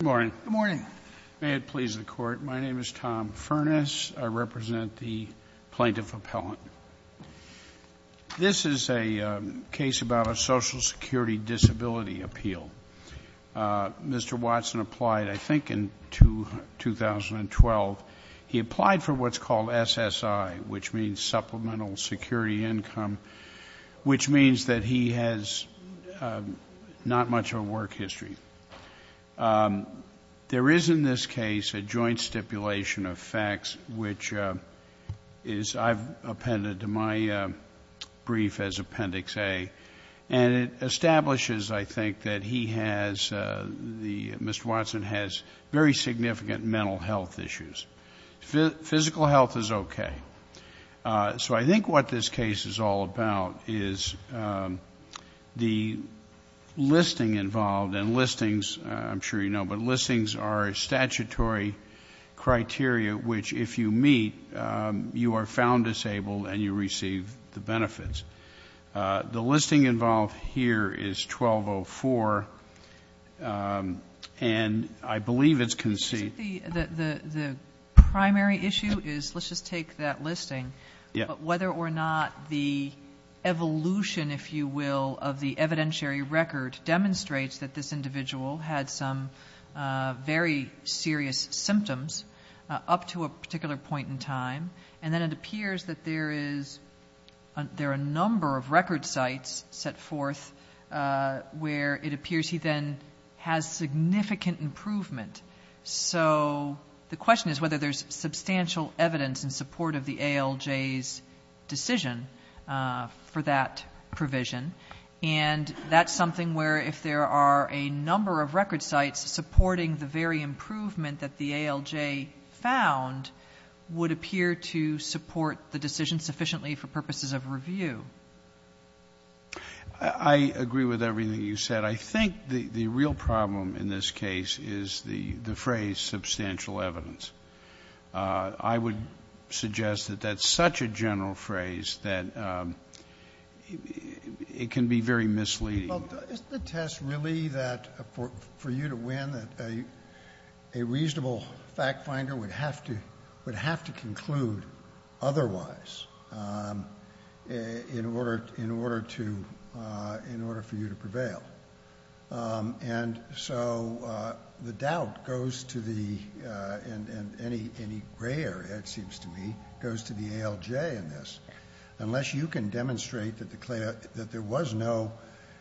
Good morning. May it please the Court, my name is Tom Furness. I represent the Plaintiff Appellant. This is a case about a Social Security Disability Appeal. Mr. Watson applied I think in 2012. He applied for what's called SSI, which means Supplemental Security Income, which means that he has not much of a work history. There is in this case a joint stipulation of facts, which I've appended to my brief as Appendix A, and it establishes I think that he has, Mr. Watson has very significant mental health issues. Physical health is okay. So I think what this case is all about is the listing involved, and listings, I'm sure you know, but listings are a statutory criteria which if you meet, you are found disabled and you receive the benefits. The listing involved here is 1204, and I believe it's conceived... The primary issue is, let's just take that listing, but whether or not the evolution, if you will, of the evidentiary record demonstrates that this individual had some very serious symptoms up to a particular point in time, and then it appears that there are a number of record sites set forth where it appears he then has significant improvement. So the question is whether there's substantial evidence in support of the ALJ's decision for that provision, and that's something where if there are a number of record sites supporting the very improvement that the ALJ found would appear to support the decision sufficiently for purposes of review. I agree with everything you said. I think the real problem in this case is the phrase substantial evidence. I would suggest that that's such a general phrase that it can be very misleading. Well, isn't the test really that for you to win that a reasonable fact finder would have to conclude otherwise in order for you to prevail? And so the doubt goes to the, and any gray area, it seems to me, goes to the ALJ in this. Unless you can demonstrate that there was no,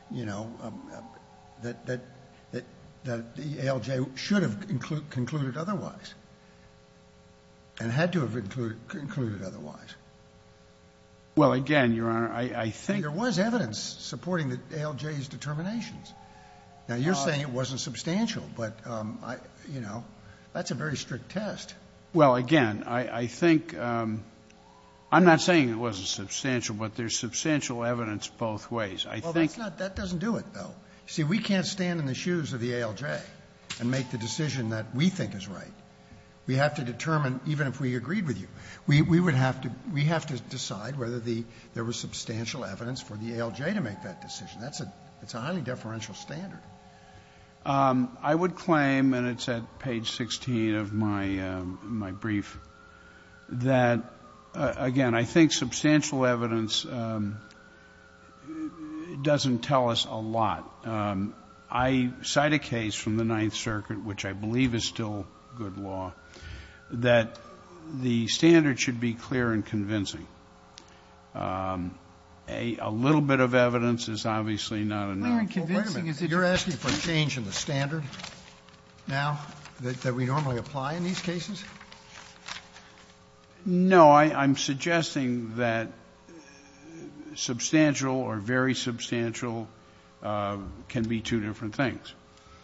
you know, that the ALJ should have concluded otherwise. And had to have concluded otherwise. Well, again, Your Honor, I think There was evidence supporting the ALJ's determinations. Now, you're saying it wasn't substantial, but, you know, that's a very strict test. Well, again, I think, I'm not saying it wasn't substantial, but there's substantial evidence both ways. I think Well, that doesn't do it, though. See, we can't stand in the shoes of the ALJ and make the decision that we think is right. We have to determine, even if we agreed with you, we would have to, we have to decide whether there was substantial evidence for the ALJ to make that decision. That's a highly deferential standard. I would claim, and it's at page 16 of my brief, that, again, I think substantial evidence doesn't tell us a lot. I cite a case from the Ninth Circuit, which I believe is still good law, that the standard should be clear and convincing. A little bit of evidence is obviously not enough. Clear and convincing is Wait a minute. You're asking for a change in the standard now that we normally apply in these cases? No. I'm suggesting that substantial or very substantial can be two different things.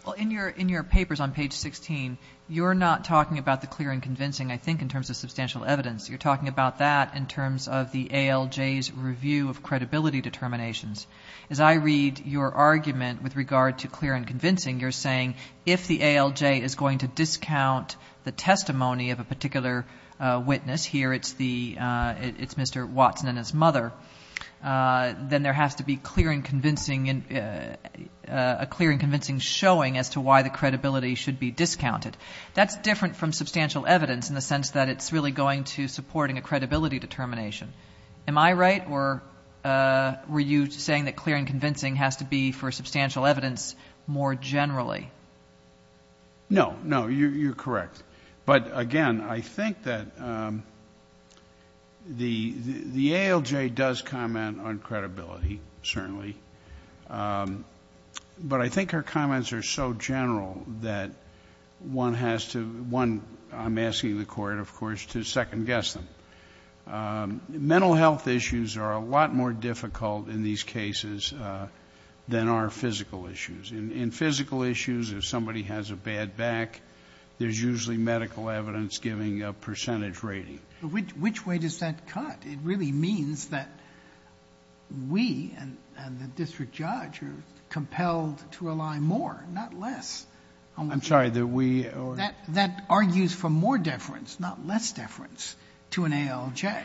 Well, in your papers on page 16, you're not talking about the clear and convincing, I think, in terms of substantial evidence. You're talking about that in terms of the ALJ's review of credibility determinations. As I read your argument with regard to clear and convincing, you're saying if the ALJ is going to discount the testimony of a particular witness, here it's Mr. Watson and his mother, then there has to be a clear and convincing showing as to why the credibility should be discounted. That's different from substantial evidence in the sense that it's really going to support a credibility determination. Am I right, or were you saying that clear and convincing has to be, for substantial evidence, more generally? No. No, you're correct. But again, I think that the ALJ does comment on credibility, certainly, but I think her comments are so general that one has to... I'm asking the court, of course, to second guess them. Mental health issues are a lot more difficult in these cases than are physical issues. In physical issues, if somebody has a bad back, there's usually medical evidence giving a percentage rating. Which way does that cut? It really means that we and the district judge are compelled to rely more, not less... I'm sorry, that we... That argues for more deference, not less deference, to an ALJ,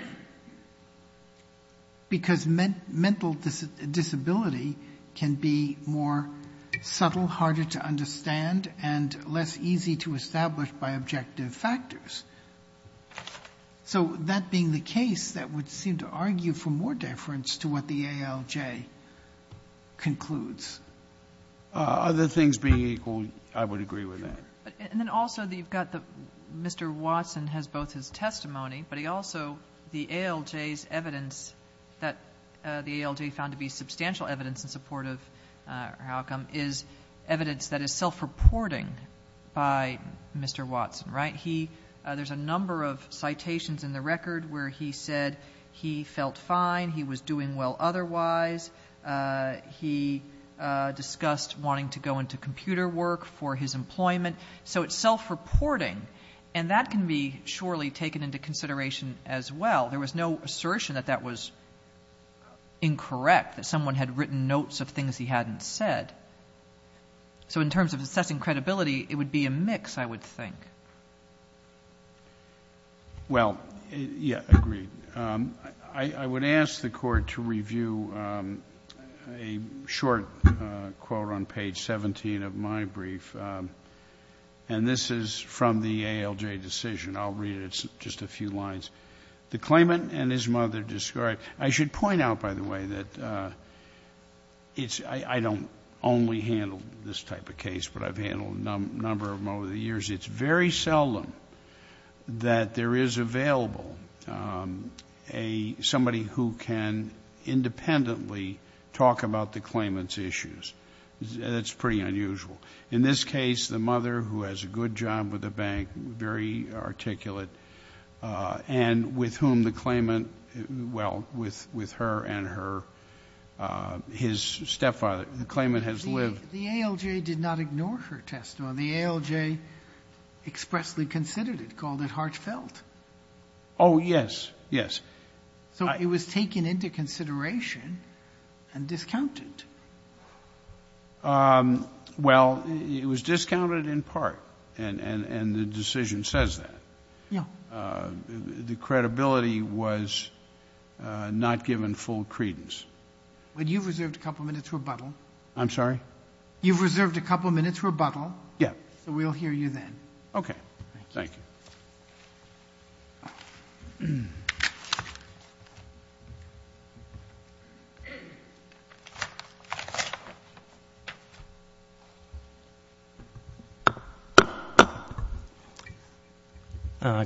because mental disability can be more subtle, harder to understand, and less easy to establish by objective factors. So that being the case, that would seem to argue for more deference to what the ALJ concludes. Other things being equal, I would agree with that. Also, you've got the... Mr. Watson has both his testimony, but he also... the ALJ's evidence that the ALJ found to be substantial evidence in support of her outcome is evidence that is self-reporting by Mr. Watson, right? There's a number of citations in the record where he said he felt fine, he was doing well otherwise, he discussed wanting to go into computer work for his employment. So it's self-reporting, and that can be surely taken into consideration as well. There was no assertion that that was incorrect, that someone had written notes of things he hadn't said. So in terms of assessing credibility, it would be a mix, I would think. Well, yeah, agreed. I would ask the Court to review a short quote on page 17 of my brief, and this is from the ALJ decision. I'll read it. It's just a few lines. The claimant and his mother described... I should point out, by the way, that I don't only handle this type of case, but I've handled a number of them over the years. It's very seldom that there is available somebody who can independently talk about the claimant's issues. That's pretty unusual. In this case, the mother, who has a good job with the bank, very articulate, and with whom the claimant... well, with her and her... his stepfather, the claimant has lived... But the ALJ did not ignore her testimony. The ALJ expressly considered it, called it heartfelt. Oh, yes, yes. So it was taken into consideration and discounted. Well, it was discounted in part, and the decision says that. The credibility was not given full credence. But you've reserved a couple minutes rebuttal. I'm sorry? You've reserved a couple minutes rebuttal. Yes. So we'll hear you then. Okay.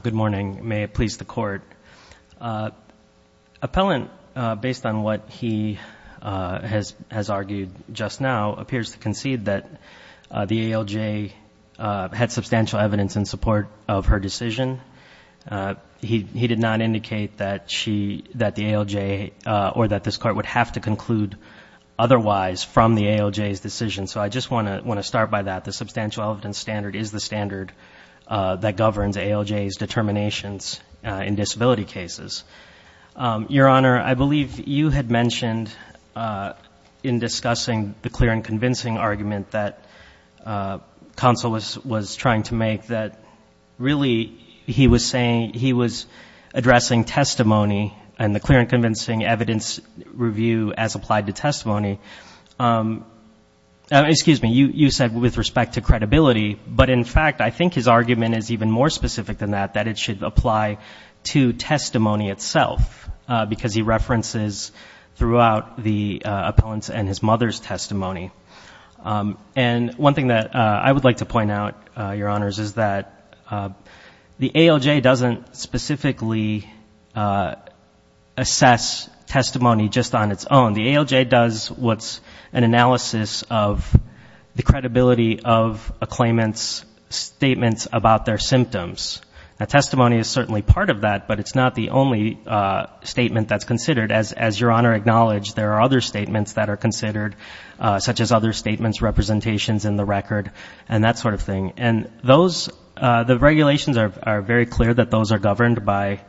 Good morning. May it please the Court. Appellant, based on what he has argued just now, appears to concede that the ALJ had substantial evidence in support of her decision. He did not indicate that the ALJ or that this Court would have to conclude otherwise from the ALJ's decision. So I just want to start by that. The substantial evidence standard is the standard that governs determinations in disability cases. Your Honor, I believe you had mentioned in discussing the clear and convincing argument that counsel was trying to make that, really, he was saying he was addressing testimony and the clear and convincing evidence review as applied to testimony... excuse me, you said with respect to credibility. But in fact, I think his argument is even more specific than that, that it should apply to testimony itself because he references throughout the appellant's and his mother's testimony. And one thing that I would like to point out, Your Honors, is that the ALJ doesn't specifically assess testimony just on its own. The ALJ does what's an analysis of the credibility of a claimant's statements about their symptoms. Testimony is certainly part of that, but it's not the only statement that's considered. As Your Honor acknowledged, there are other statements that are considered, such as other statements, representations in the record, and that sort of thing. And the regulations are very clear that those are governed by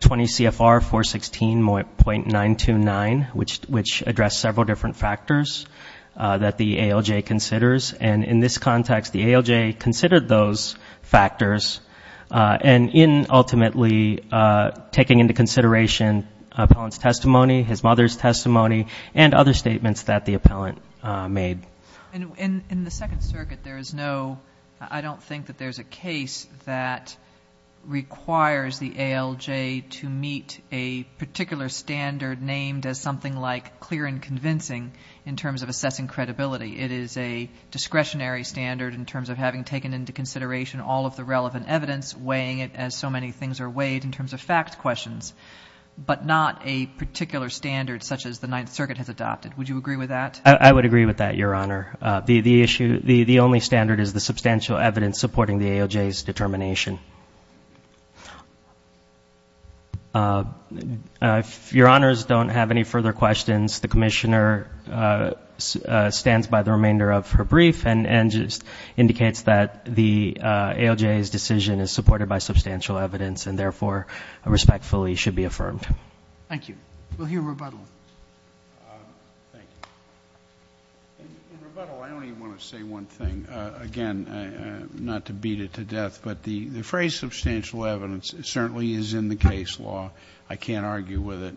20 CFR 416.929, which address several different factors that the ALJ considers. And in this context, the ALJ considered those factors, and in ultimately taking into consideration appellant's testimony, his mother's testimony, and other statements that the appellant made. In the Second Circuit, I don't think that there's a case that requires the ALJ to meet a particular standard named as something like clear and convincing in terms of assessing credibility. It is a discretionary standard in terms of having taken into consideration all of the relevant evidence, weighing it as so many things are weighed in terms of fact questions, but not a particular standard such as the Ninth Circuit has adopted. Would you agree with that? I would agree with that, Your Honor. The issue, the only standard is the substantial evidence supporting the ALJ's determination. If Your Honors don't have any further questions, the Commissioner stands by the remainder of her brief and just indicates that the ALJ's decision is supported by substantial evidence and therefore respectfully should be affirmed. Thank you. We'll hear rebuttal. Thank you. In rebuttal, I only want to say one thing, again, not to beat it to death, but the phrase substantial evidence certainly is in the case law. I can't argue with it.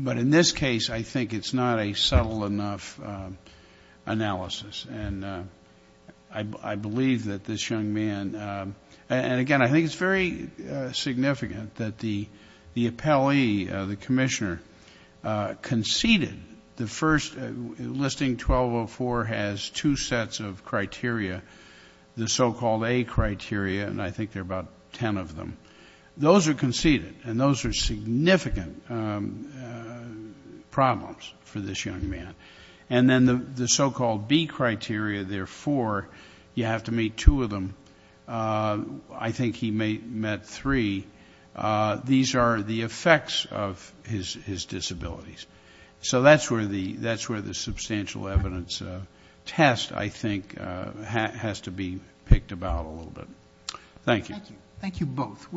But in this case, I think it's not a subtle enough analysis. And I believe that this young man, and again, I think it's very significant that the appellee, the Commissioner, conceded the first, Listing 1204 has two sets of criteria, the so-called A criteria, and I think there are about ten of them. Those are conceded, and those are significant problems for this young man. And then the so-called B criteria, there are four. You have to meet two of them. I think he met three. These are the effects of his disabilities. So that's where the substantial evidence test, I think, has to be picked about a little bit. Thank you. Thank you both.